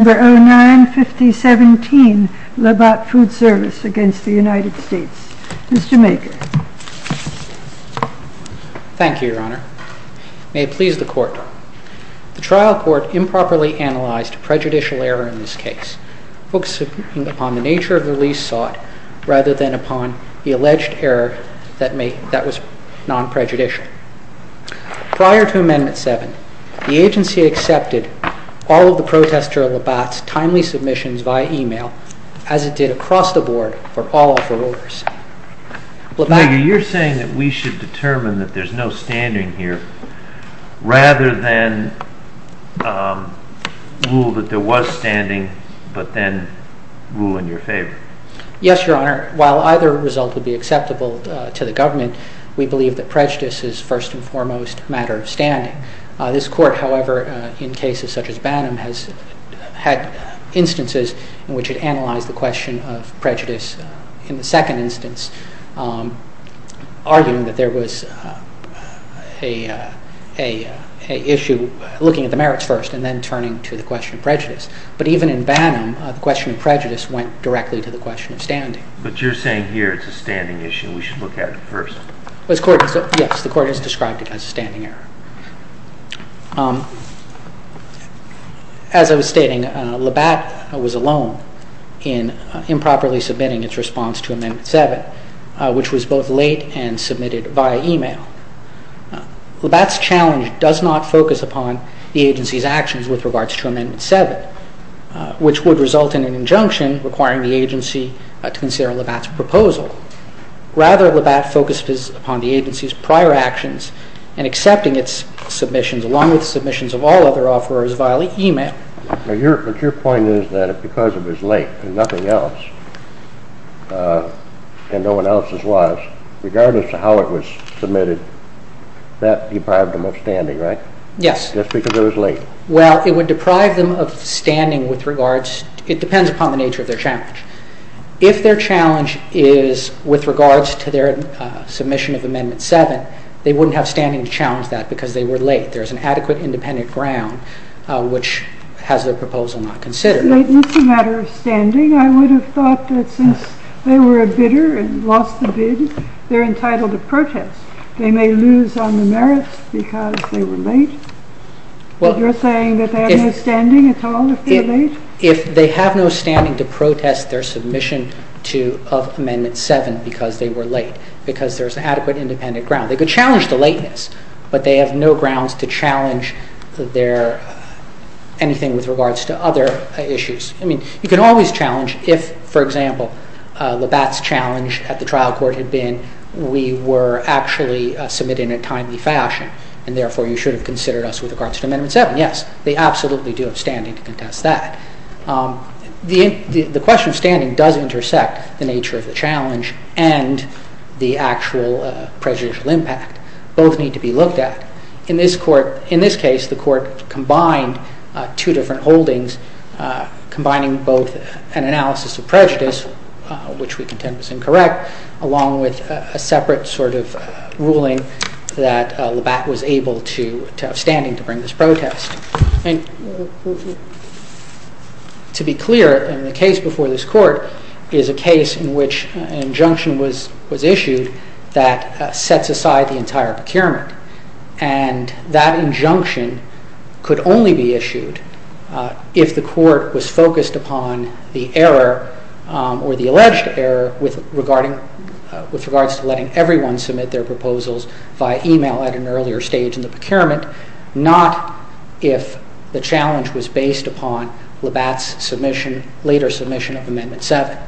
Mr. Maker. Thank you, Your Honor. May it please the Court. The trial court improperly analyzed prejudicial error in this case, focusing upon the nature of the lease sought rather than upon the alleged error that was non-prejudicial. Prior to Amendment 7, the agency accepted all of the protester Labatt's timely submissions via email, as it did across the board, for all of her orders. Mr. Maker, you're saying that we should determine that there's no standing here rather than rule that there was standing, but then rule in your favor. Yes, Your Honor. While either result would be acceptable to the government, we believe that prejudice is first and foremost a matter of standing. This Court, however, in cases such as Bannum, has had instances in which it analyzed the question of prejudice in the second instance, arguing that there was an issue looking at the merits first and then turning to the question of prejudice. But even in Bannum, the question of prejudice went directly to the question of standing. But you're saying here it's a standing issue and we should look at it first. Yes, the Court has described it as a standing error. As I was stating, Labatt was alone in improperly submitting its response to Amendment 7, which was both late and submitted via email. Labatt's challenge does not focus upon the agency's actions with regards to Amendment 7, which would result in an injunction requiring the agency to consider Labatt's proposal. Rather, Labatt focused upon the agency's prior actions in accepting its submissions, along with submissions of all other offerors via email. But your point is that because it was late and nothing else, and no one else's was, regardless of how it was submitted, that deprived them of standing, right? Yes. Just because it was late. Well, it would deprive them of standing with regards, it depends upon the nature of their challenge, is with regards to their submission of Amendment 7, they wouldn't have standing to challenge that because they were late. There's an adequate independent ground which has their proposal not considered. If it's a matter of standing, I would have thought that since they were a bidder and lost the bid, they're entitled to protest. They may lose on the merits because they were late, but you're saying that they have no standing at all if they're late? If they have no standing to protest their submission of Amendment 7 because they were late, because there's an adequate independent ground. They could challenge the lateness, but they have no grounds to challenge anything with regards to other issues. You can always challenge if, for example, Labatt's challenge at the trial court had been we were actually submitting in a timely fashion, and therefore you should have considered us with regards to Amendment 7. Yes, they absolutely do have standing to contest that. The question of standing does intersect the nature of the challenge and the actual prejudicial impact. Both need to be looked at. In this case, the court combined two different holdings, combining both an analysis of prejudice, which we contend was incorrect, along with a separate sort of ruling that Labatt was able to have standing to bring this protest. To be clear, in the case before this court is a case in which an injunction was issued that sets aside the entire procurement, and that injunction could only be issued if the court was focused upon the error or the alleged error with regards to letting everyone submit their proposals via email at an earlier stage in the procurement, not if the challenge was based upon Labatt's later submission of Amendment 7.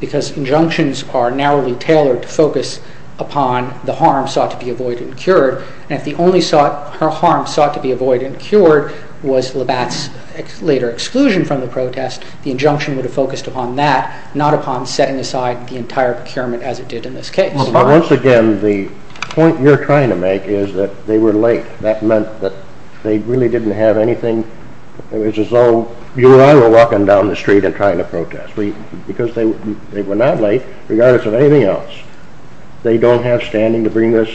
Because injunctions are narrowly tailored to focus upon the harm sought to be avoided and cured, and if the only harm sought to be avoided and cured was Labatt's later exclusion from the protest, the injunction would have focused upon that, not upon setting aside the entire procurement as it did in this case. But once again, the point you're trying to make is that they were late. That meant that they really didn't have anything. It was as though you and I were walking down the street and trying to protest. Because they were not late, regardless of anything else, they don't have standing to bring this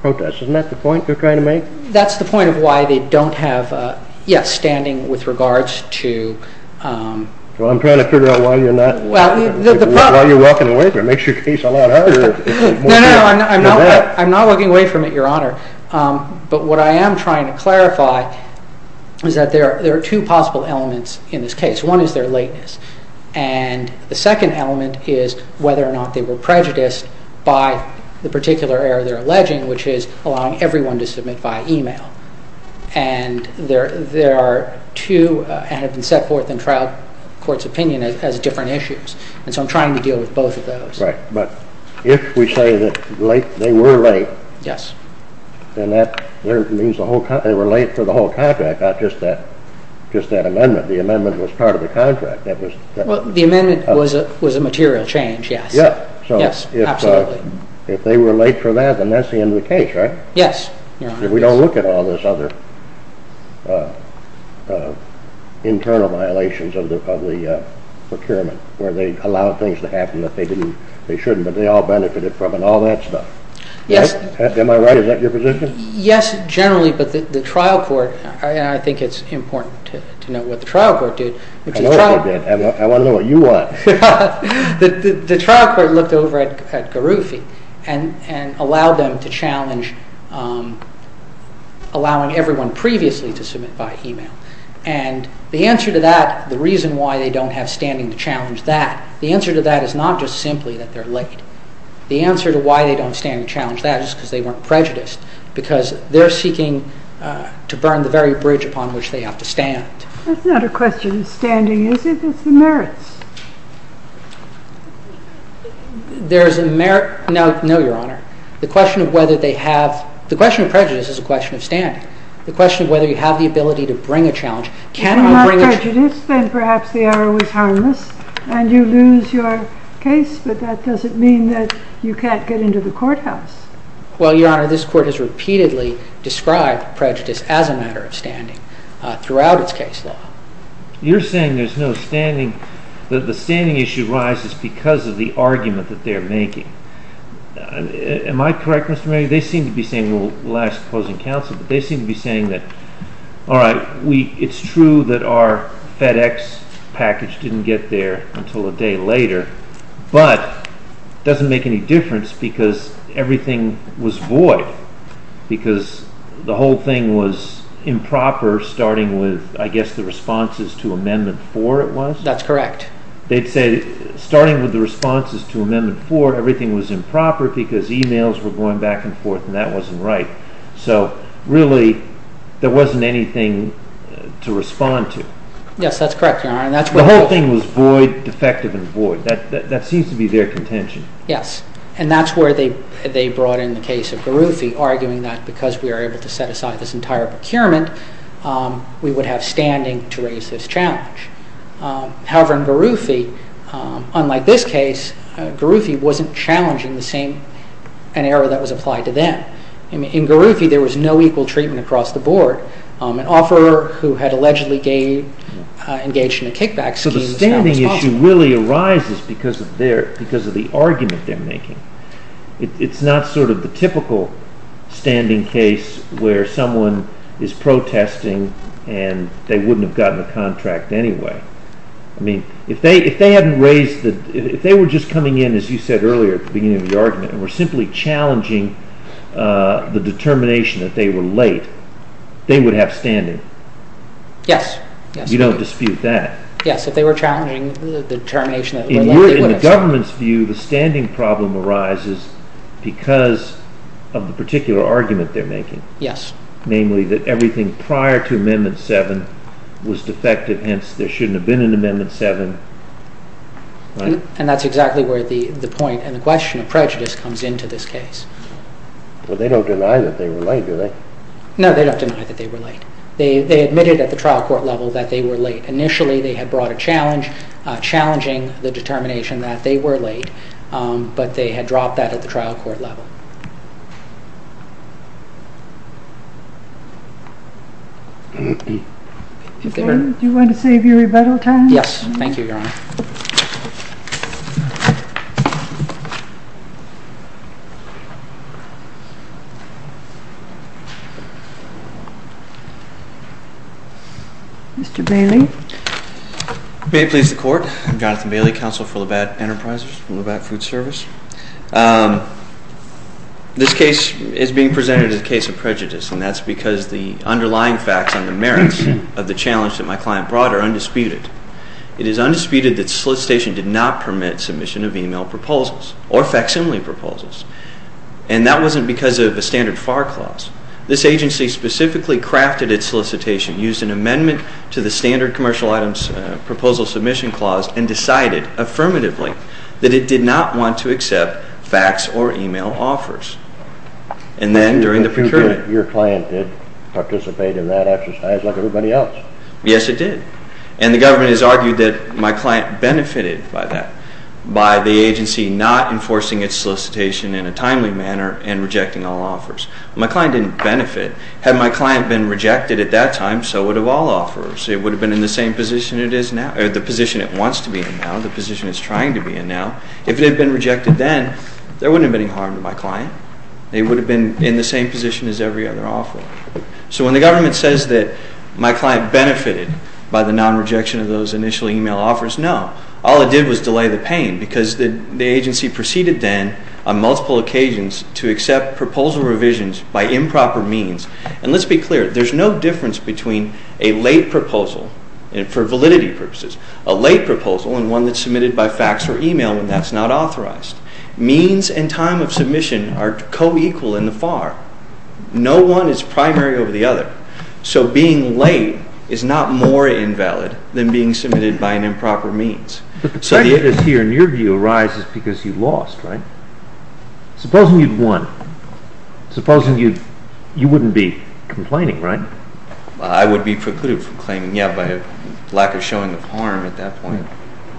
protest. Isn't that the point you're trying to make? That's the point of why they don't have, yes, standing with regards to... Well, I'm trying to figure out why you're not... Why you're walking away from it. It makes your case a lot harder. No, no, I'm not walking away from it, Your Honor. But what I am trying to clarify is that there are two possible elements in this case. One is their lateness. And the second element is whether or not they were prejudiced by the particular error they're alleging, which is allowing everyone to submit via email. And there are two, and have been set forth in trial court's opinion as different issues. And so I'm trying to deal with both of those. Right. But if we say that they were late, then that means they were late for the whole contract, not just that amendment. The amendment was part of the contract. The amendment was a material change, yes. Yes. Yes, absolutely. If they were late for that, then that's the end of the case, right? Yes, Your Honor. If we don't look at all this other internal violations of the procurement, where they allow things to happen that they didn't, they shouldn't, but they all benefited from and all that stuff. Yes. Am I right? Is that your position? Yes, generally. But the trial court, and I think it's important to know what the trial court did. I know what they did. I want to know what you want. The trial court looked over at Garufi and allowed them to challenge, allowing everyone previously to submit by email. And the answer to that, the reason why they don't have standing to challenge that, the answer to that is not just simply that they're late. The answer to why they don't stand to challenge that is because they weren't prejudiced, because they're seeking to burn the very bridge upon which they have to stand. That's not a question of standing, is it? It's the merits. There's a merit. No, Your Honor. The question of whether they have, the question of prejudice is a question of standing. The question of whether you have the ability to bring a challenge. If you're not prejudiced, then perhaps the error was harmless and you lose your case, but that doesn't mean that you can't get into the courthouse. Well, Your Honor, this court has repeatedly described prejudice as a matter of standing throughout its case now. You're saying there's no standing, that the standing issue rises because of the argument that they're making. Am I correct, Mr. Manny? They seem to be saying, well, last closing counsel, but they seem to be saying that, all right, we, it's true that our FedEx package didn't get there until a day later, but it doesn't make any difference because everything was void because the whole thing was improper, starting with, I guess, the responses to Amendment 4, it was? That's correct. They'd say, starting with the responses to Amendment 4, everything was improper because emails were going back and forth, and that wasn't right. So, really, there wasn't anything to respond to. Yes, that's correct, Your Honor, and that's where the whole thing was void, defective and void. That seems to be their contention. Yes, and that's where they brought in the case of Garuthi, arguing that because we were able to set aside this entire procurement, we would have standing to raise this challenge. However, in Garuthi, unlike this case, Garuthi wasn't challenging the same, an error that was applied to them. In Garuthi, there was no equal treatment across the board. An offerer who had allegedly engaged in a kickback scheme was found responsible. Garuthi really arises because of the argument they're making. It's not sort of the typical standing case where someone is protesting and they wouldn't have gotten the contract anyway. I mean, if they were just coming in, as you said earlier, at the beginning of the argument, and were simply challenging the determination that they were late, they would have standing. Yes. You don't dispute that. Yes, if they were challenging the determination that they were late, they would have standing. In the government's view, the standing problem arises because of the particular argument they're making. Yes. Namely, that everything prior to Amendment 7 was defective, hence there shouldn't have been an Amendment 7, right? And that's exactly where the point and the question of prejudice comes into this case. Well, they don't deny that they were late, do they? No, they don't deny that they were late. They admitted at the trial court level that they were late. Initially, they had brought a challenge, challenging the determination that they were late, but they had dropped that at the trial court level. Your Honor, do you want to save your rebuttal time? Yes. Thank you, Your Honor. Mr. Bailey? May it please the Court? I'm Jonathan Bailey, Counsel for Labatt Enterprises, Labatt Food Service. This case is being presented as a case of prejudice, and that's because the underlying facts and the merits of the challenge that my client brought are undisputed. The fact is that solicitation did not permit submission of email proposals or facsimile proposals, and that wasn't because of a standard FAR clause. This agency specifically crafted its solicitation, used an amendment to the standard commercial items proposal submission clause, and decided affirmatively that it did not want to accept fax or email offers. And then during the procurement... Your client did participate in that exercise like everybody else. Yes, it did. And the government has argued that my client benefited by that, by the agency not enforcing its solicitation in a timely manner and rejecting all offers. My client didn't benefit. Had my client been rejected at that time, so would have all offers. It would have been in the same position it is now, or the position it wants to be in now, the position it's trying to be in now. If it had been rejected then, there wouldn't have been any harm to my client. They would have been in the same position as every other So when the government says that my client benefited by the non-rejection of those initial email offers, no. All it did was delay the pain because the agency proceeded then on multiple occasions to accept proposal revisions by improper means. And let's be clear, there's no difference between a late proposal, for validity purposes, a late proposal and one that's submitted by fax or email when that's not authorized. Means and time of submission are co-equal in the FAR. No one is primary over the other. So being late is not more invalid than being submitted by an improper means. But the prejudice here in your view arises because you lost, right? Supposing you'd won. Supposing you wouldn't be complaining, right? I would be precluded from claiming, yeah, by a lack of showing of harm at that point.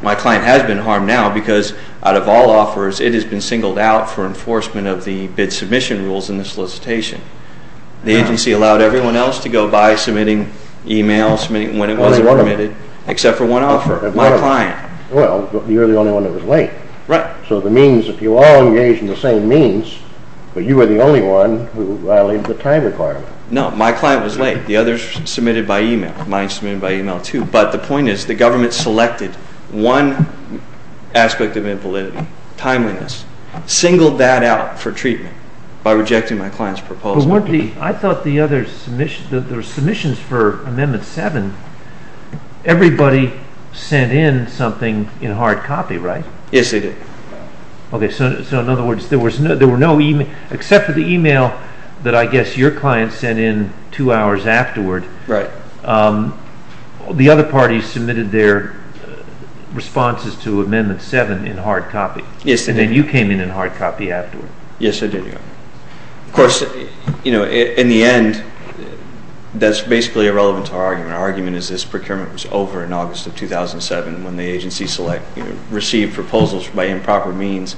My client has been harmed now because out of all offers, it has been singled out for enforcement of the bid submission rules in the solicitation. The agency allowed everyone else to go by submitting emails when it wasn't permitted, except for one offer, my client. Well, you're the only one that was late. Right. So the means, if you all engaged in the same means, but you were the only one who violated the time requirement. No, my client was late. The others submitted by email. Mine submitted by email too. But the point is the government selected one aspect of invalidity, timeliness, singled that out for treatment by rejecting my client's proposal. I thought the other submissions, the submissions for Amendment 7, everybody sent in something in hard copy, right? Yes, they did. Okay, so in other words, there were no emails, except for the email that I guess your client sent in two hours afterward. Right. The other parties submitted their responses to Amendment 7 in hard copy. Yes, they did. And then you came in in hard copy afterward. Yes, I did. Of course, in the end, that's basically irrelevant to our argument. Our argument is this procurement was over in August of 2007 when the agency received proposals by improper means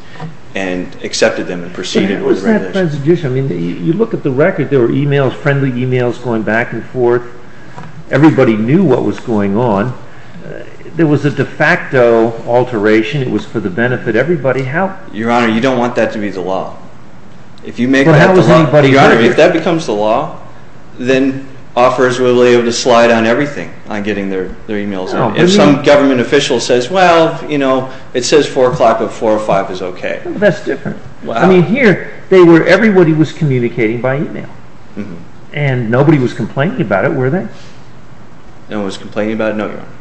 and accepted them and proceeded with regulation. I mean, you look at the record, there were emails, friendly emails going back and forth. Everybody knew what was going on. There was a de facto alteration. It was for the benefit of everybody. Your Honor, you don't want that to be the law. If that becomes the law, then offerors will be able to slide on everything on getting their emails in. If some government official says, well, you know, it says 4 o'clock, but 4 or 5 is okay. That's different. Wow. I mean, here, everybody was communicating by email. And nobody was complaining about it, were they? No one was complaining about it? No, Your Honor.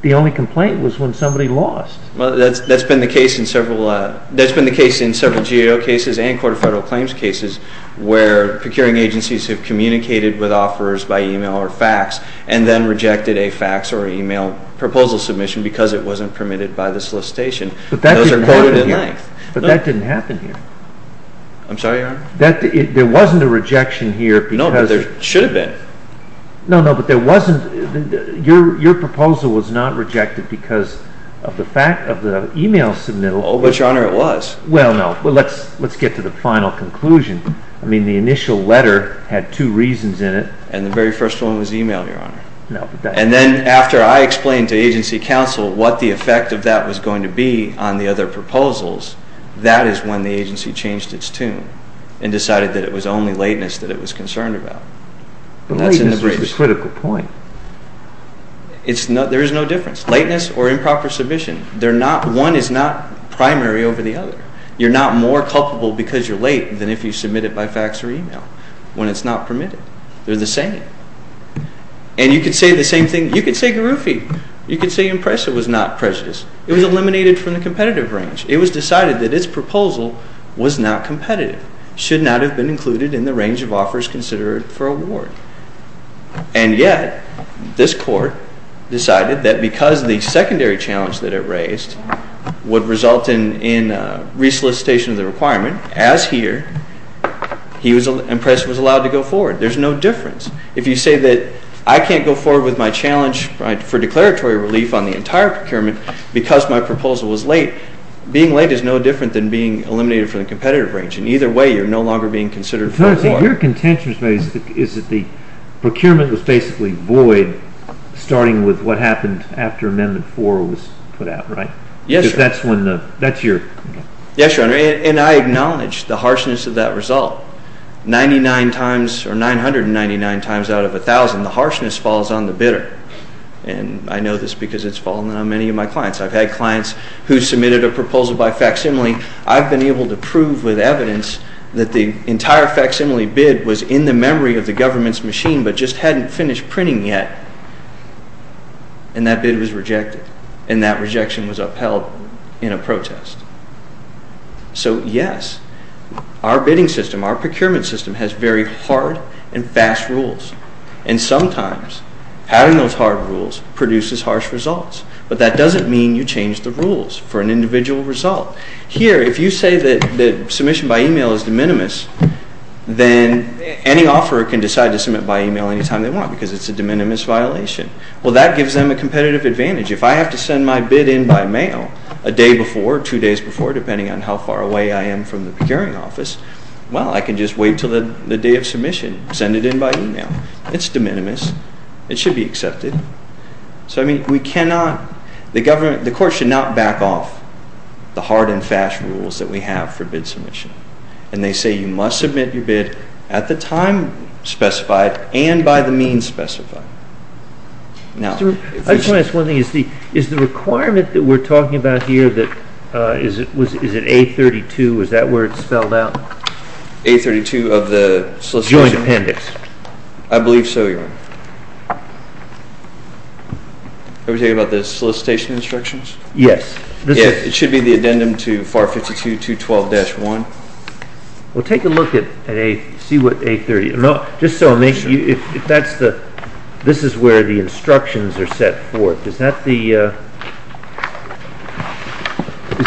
The only complaint was when somebody lost. Well, that's been the case in several GAO cases and Court of Federal Claims cases where procuring agencies have communicated with offerors by email or fax and then rejected a fax or email proposal submission because it wasn't permitted by the solicitation. But that didn't happen here. Those are quoted in length. But that didn't happen here. I'm sorry, Your Honor? There wasn't a rejection here because No, but there should have been. No, no, but there wasn't. Your proposal was not rejected because of the fact of the email submittal. But, Your Honor, it was. Well, no. Let's get to the final conclusion. I mean, the initial letter had two reasons in it. And the very first one was email, Your Honor. No, but that's And then after I explained to agency counsel what the effect of that was going to be on the other proposals, that is when the agency changed its tune and decided that it was only lateness that it was concerned about. But lateness is the critical point. There is no difference, lateness or improper submission. One is not primary over the other. You're not more culpable because you're late than if you submit it by fax or email when it's not permitted. They're the same. And you could say the same thing. You could say Garuffi. You could say Impressa was not prejudiced. It was eliminated from the competitive range. It was decided that its proposal was not competitive, should not have been included in the range of offers considered for award. And yet, this court decided that because the secondary challenge that it raised would result in resolicitation of the requirement, as here, Impressa was allowed to go forward. There's no difference. If you say that I can't go forward with my challenge for declaratory relief on the entire procurement because my proposal was late, being late is no different than being eliminated from the competitive range. And either way, you're no longer being considered for award. Your contention is that the procurement was basically void starting with what happened after Amendment 4 was put out, right? Yes, Your Honor. Because that's when the – that's your – Yes, Your Honor. And I acknowledge the harshness of that result. Ninety-nine times or 999 times out of 1,000, the harshness falls on the bidder. And I know this because it's fallen on many of my clients. I've had clients who submitted a proposal by facsimile. I've been able to prove with evidence that the entire facsimile bid was in the memory of the government's machine but just hadn't finished printing yet. And that bid was rejected. And that rejection was upheld in a protest. So, yes, our bidding system, our procurement system has very hard and fast rules. And sometimes having those hard rules produces harsh results. But that doesn't mean you change the rules for an individual result. Here, if you say that submission by email is de minimis, then any offeror can decide to submit by email any time they want because it's a de minimis violation. Well, that gives them a competitive advantage. If I have to send my bid in by mail a day before, two days before, depending on how far away I am from the procuring office, well, I can just wait until the day of submission, send it in by email. It's de minimis. It should be accepted. So, I mean, we cannot, the government, the court should not back off the hard and fast rules that we have for bid submission. And they say you must submit your bid at the time specified and by the means specified. I just want to ask one thing. Is the requirement that we're talking about here that, is it A32? Is that where it's spelled out? A32 of the solicitation. Joint appendix. I believe so, Your Honor. Are we talking about the solicitation instructions? Yes. It should be the addendum to FAR 52.212-1. Well, take a look at A, see what A30. No, just so I make, if that's the, this is where the instructions are set forth. Is that the, is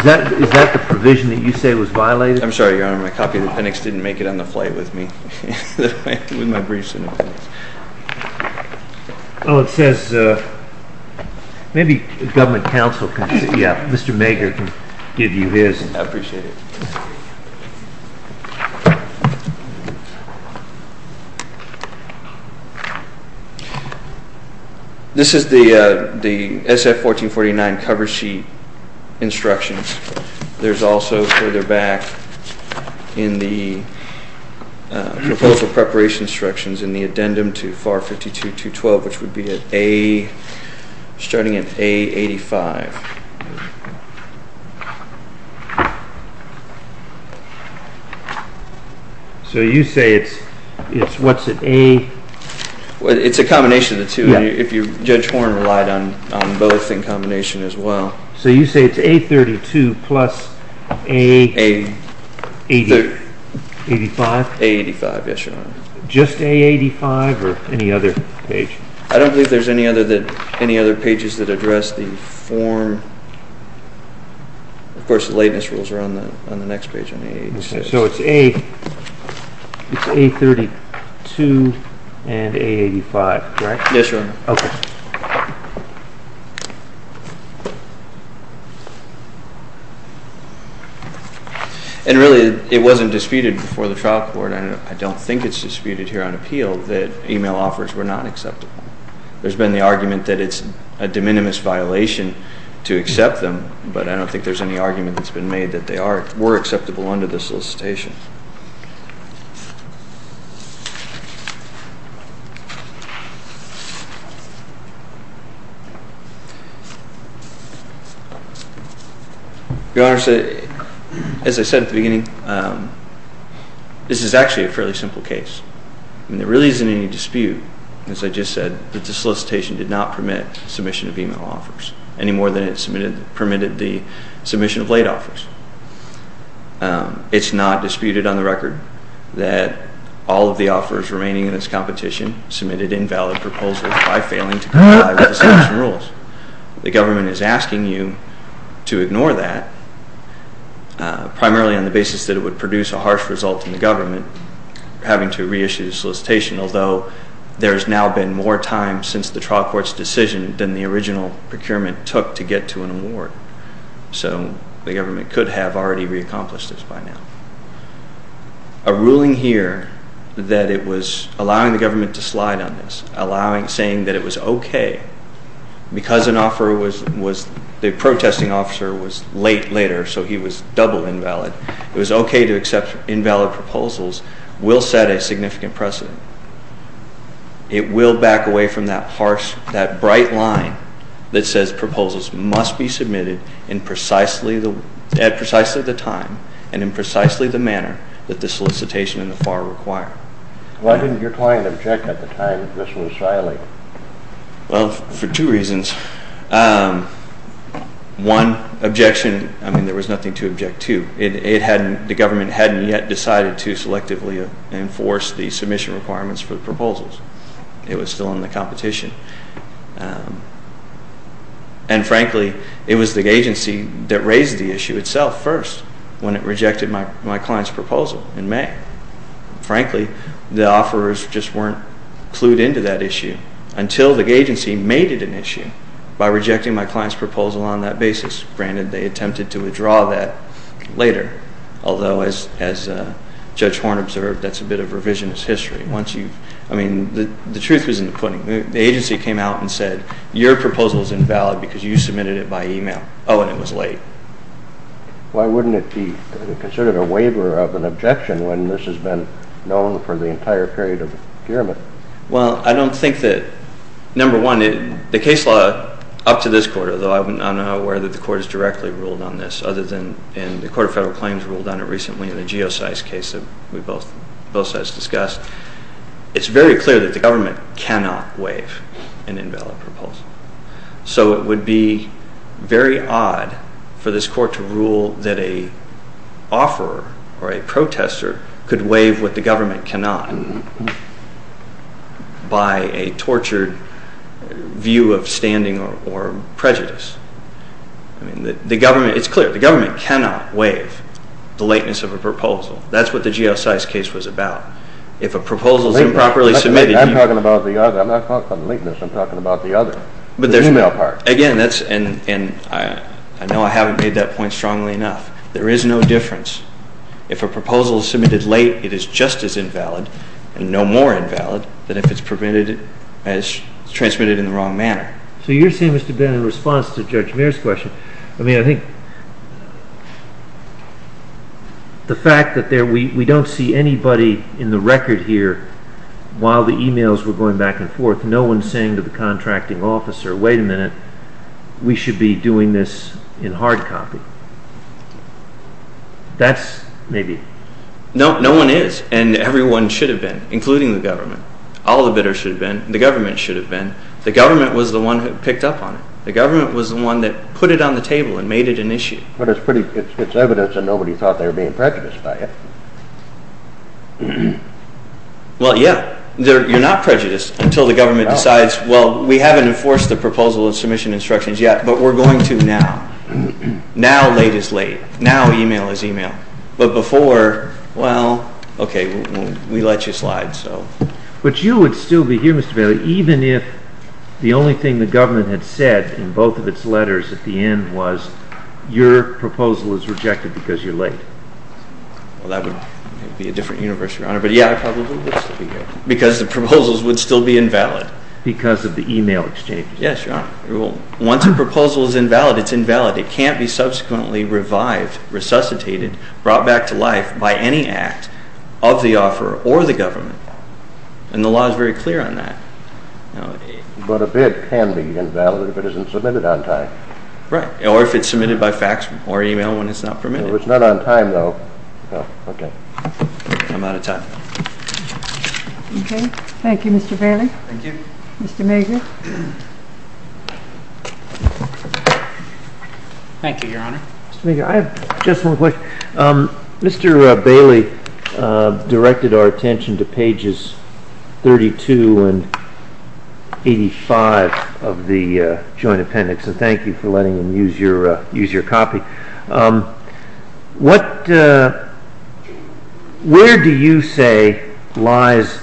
that the provision that you say was violated? I'm sorry, Your Honor, my copy of the appendix didn't make it on the flight with me, with my briefs and appendix. Oh, it says, maybe government counsel can, yeah, Mr. Mager can give you his. I appreciate it. This is the SF-1449 cover sheet instructions. There's also further back in the proposal preparation instructions in the addendum to FAR 52.212, which would be at A, starting at A85. So you say it's, it's, what's it, A? It's a combination of the two. If you, Judge Horne relied on both in combination as well. So you say it's A32 plus A85? A85, yes, Your Honor. Just A85 or any other page? I don't believe there's any other that, any other pages that address the form, of course, the lateness rules are on the next page, on A86. So it's A, it's A32 and A85, right? Yes, Your Honor. Okay. And really, it wasn't disputed before the trial court, and I don't think it's disputed here on appeal, that email offers were not acceptable. There's been the argument that it's a de minimis violation to accept them, but I don't think there's any argument that's been made that they are, were acceptable under the solicitation. Your Honor, as I said at the beginning, this is actually a fairly simple case. There really isn't any dispute, as I just said, that the solicitation did not permit submission of email offers, any more than it permitted the submission of late offers. It's not disputed on the record that all of the offers remaining in this competition submitted invalid proposals by failing to comply with the submission rules. The government is asking you to ignore that, primarily on the basis that it would produce a harsh result in the government, having to reissue the solicitation, although there's now been more time since the trial court's decision than the original procurement took to get to an award. So the government could have already reaccomplished this by now. A ruling here that it was allowing the government to slide on this, allowing, saying that it was okay because an offer was, the protesting officer was late later, so he was double invalid. It was okay to accept invalid proposals will set a significant precedent. It will back away from that harsh, that bright line that says proposals must be submitted at precisely the time and in precisely the manner that the solicitation and the FAR require. Why didn't your client object at the time that this was violated? Well, for two reasons. One, objection, I mean there was nothing to object to. It hadn't, the government hadn't yet decided to selectively enforce the submission requirements for the proposals. It was still in the competition. And frankly, it was the agency that raised the issue itself first when it rejected my client's proposal in May. Frankly, the offerers just weren't clued into that issue until the agency made it an issue by rejecting my client's proposal on that basis. Granted, they attempted to withdraw that later. Although, as Judge Horne observed, that's a bit of revisionist history. Once you've, I mean, the truth is in the pudding. The agency came out and said your proposal is invalid because you submitted it by email. Oh, and it was late. Why wouldn't it be considered a waiver of an objection when this has been known for the entire period of gearmen? Well, I don't think that, number one, the case law up to this quarter, though I'm not aware that the court has directly ruled on this other than, and the Court of Federal Claims ruled on it recently in the Geosci's case that we both, both sides discussed. It's very clear that the government cannot waive an invalid proposal. So it would be very odd for this court to rule that a offerer or a protester could waive what the government cannot by a tortured view of standing or prejudice. I mean, the government, it's clear, the government cannot waive the lateness of a proposal. That's what the Geosci's case was about. If a proposal is improperly submitted... I'm talking about the other, I'm not talking about the lateness, I'm talking about the other. But there's... The email part. Again, that's, and I know I haven't made that point strongly enough. There is no difference. If a proposal is submitted late, it is just as invalid and no more invalid than if it's transmitted in the wrong manner. So you're saying, Mr. Ben, in response to Judge Mears' question, I mean, I think... the fact that we don't see anybody in the record here while the emails were going back and forth, no one saying to the contracting officer, wait a minute, we should be doing this in hard copy. That's maybe... No one is, and everyone should have been, including the government. All the bidders should have been. The government should have been. The government was the one who picked up on it. The government was the one that put it on the table and made it an issue. But it's pretty, it's evidence that nobody thought they were being prejudiced by it. Well, yeah. You're not prejudiced until the government decides, well, we haven't enforced the proposal of submission instructions yet, but we're going to now. Now, late is late. Now, email is email. But before, well, okay, we let you slide, so... But you would still be here, Mr. Bailey, even if the only thing the government had said in both of its letters at the end was your proposal is rejected because you're late. Well, that would be a different universe, Your Honor. But, yeah, I probably would still be here because the proposals would still be invalid. Because of the email exchanges. Yes, Your Honor. Once a proposal is invalid, it's invalid. It can't be subsequently revived, resuscitated, brought back to life by any act of the offeror or the government. And the law is very clear on that. But a bid can be invalid if it isn't submitted on time. Right. Or if it's submitted by fax or email when it's not permitted. Well, it's not on time, though. Oh, okay. I'm out of time. Okay. Thank you, Mr. Bailey. Thank you. Mr. Mager. Thank you, Your Honor. Mr. Mager, I have just one question. Mr. Bailey directed our attention to pages 32 and 85 of the joint appendix. And thank you for letting him use your copy. Where do you say lies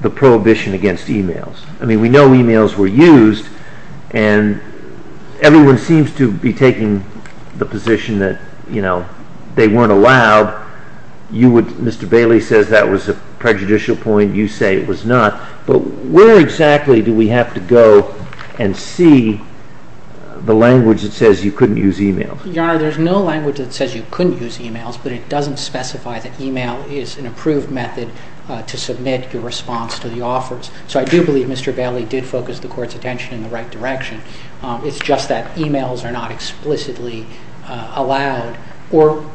the prohibition against emails? I mean, we know emails were used. And everyone seems to be taking the position that, you know, they weren't allowed. Mr. Bailey says that was a prejudicial point. You say it was not. But where exactly do we have to go and see the language that says you couldn't use emails? Your Honor, there's no language that says you couldn't use emails, but it doesn't specify that email is an approved method to submit your response to the offers. So I do believe Mr. Bailey did focus the Court's attention in the right direction. It's just that emails are not explicitly allowed or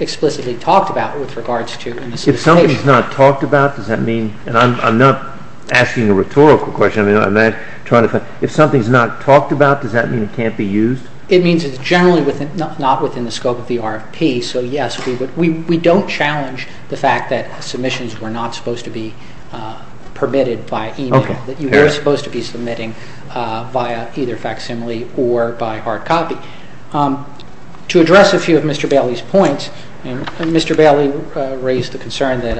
explicitly talked about with regards to solicitation. If something's not talked about, does that mean – and I'm not asking a rhetorical question. I'm not trying to – if something's not talked about, does that mean it can't be used? It means it's generally not within the scope of the RFP. So, yes, we don't challenge the fact that submissions were not supposed to be permitted by email, that you were supposed to be submitting via either facsimile or by hard copy. To address a few of Mr. Bailey's points, Mr. Bailey raised the concern that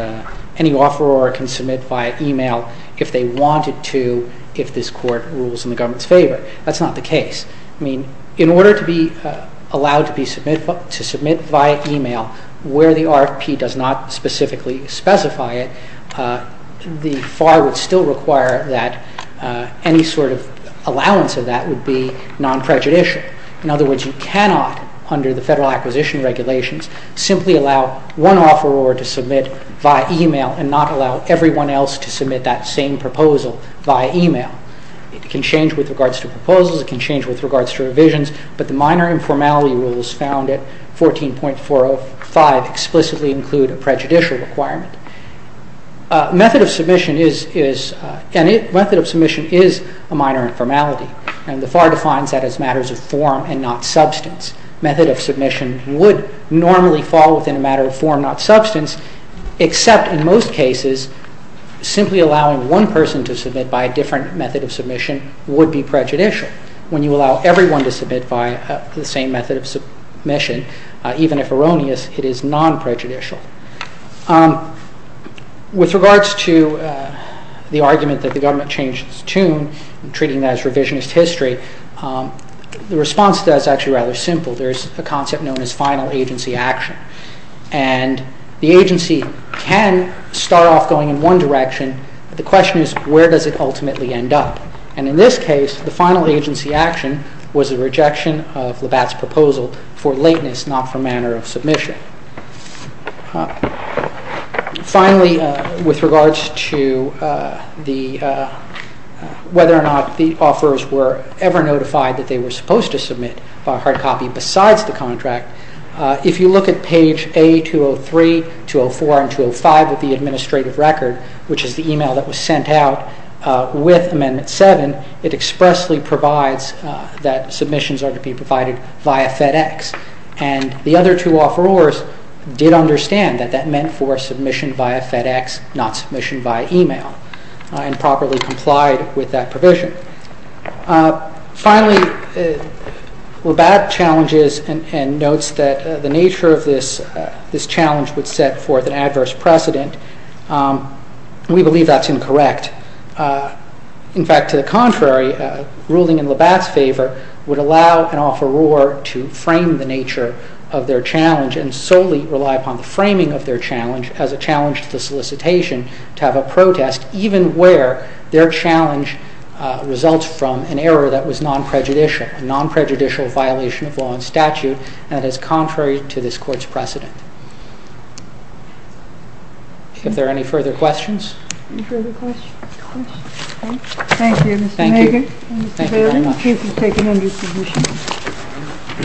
any offeror can submit via email if they wanted to, if this Court rules in the government's favor. That's not the case. I mean, in order to be allowed to submit via email where the RFP does not specifically specify it, the FAR would still require that any sort of allowance of that would be non-prejudicial. In other words, you cannot, under the Federal Acquisition Regulations, simply allow one offeror to submit via email and not allow everyone else to submit that same proposal via email. It can change with regards to proposals. It can change with regards to revisions. But the minor informality rules found at 14.405 explicitly include a prejudicial requirement. Method of submission is a minor informality, and the FAR defines that as matters of form and not substance. Method of submission would normally fall within a matter of form, not substance, except in most cases simply allowing one person to submit by a different method of submission would be prejudicial. When you allow everyone to submit by the same method of submission, even if erroneous, it is non-prejudicial. With regards to the argument that the government changed its tune and treating that as revisionist history, the response to that is actually rather simple. There is a concept known as final agency action, and the agency can start off going in one direction, but the question is where does it ultimately end up? And in this case, the final agency action was a rejection of Labatt's proposal for lateness, not for manner of submission. Finally, with regards to whether or not the offerors were ever notified that they were supposed to submit by hard copy besides the contract, if you look at page A203, 204, and 205 of the administrative record, which is the email that was sent out with Amendment 7, it expressly provides that submissions are to be provided via FedEx. And the other two offerors did understand that that meant for submission via FedEx, not submission via email, and properly complied with that provision. Finally, Labatt challenges and notes that the nature of this challenge would set forth an adverse precedent. We believe that's incorrect. In fact, to the contrary, ruling in Labatt's favor would allow an offeror to frame the nature of their challenge and solely rely upon the framing of their challenge as a challenge to the solicitation to have a protest, even where their challenge results from an error that was non-prejudicial, and that is contrary to this Court's precedent. Are there any further questions? Any further questions? Thank you. Thank you. Thank you very much. The case is taken under submission.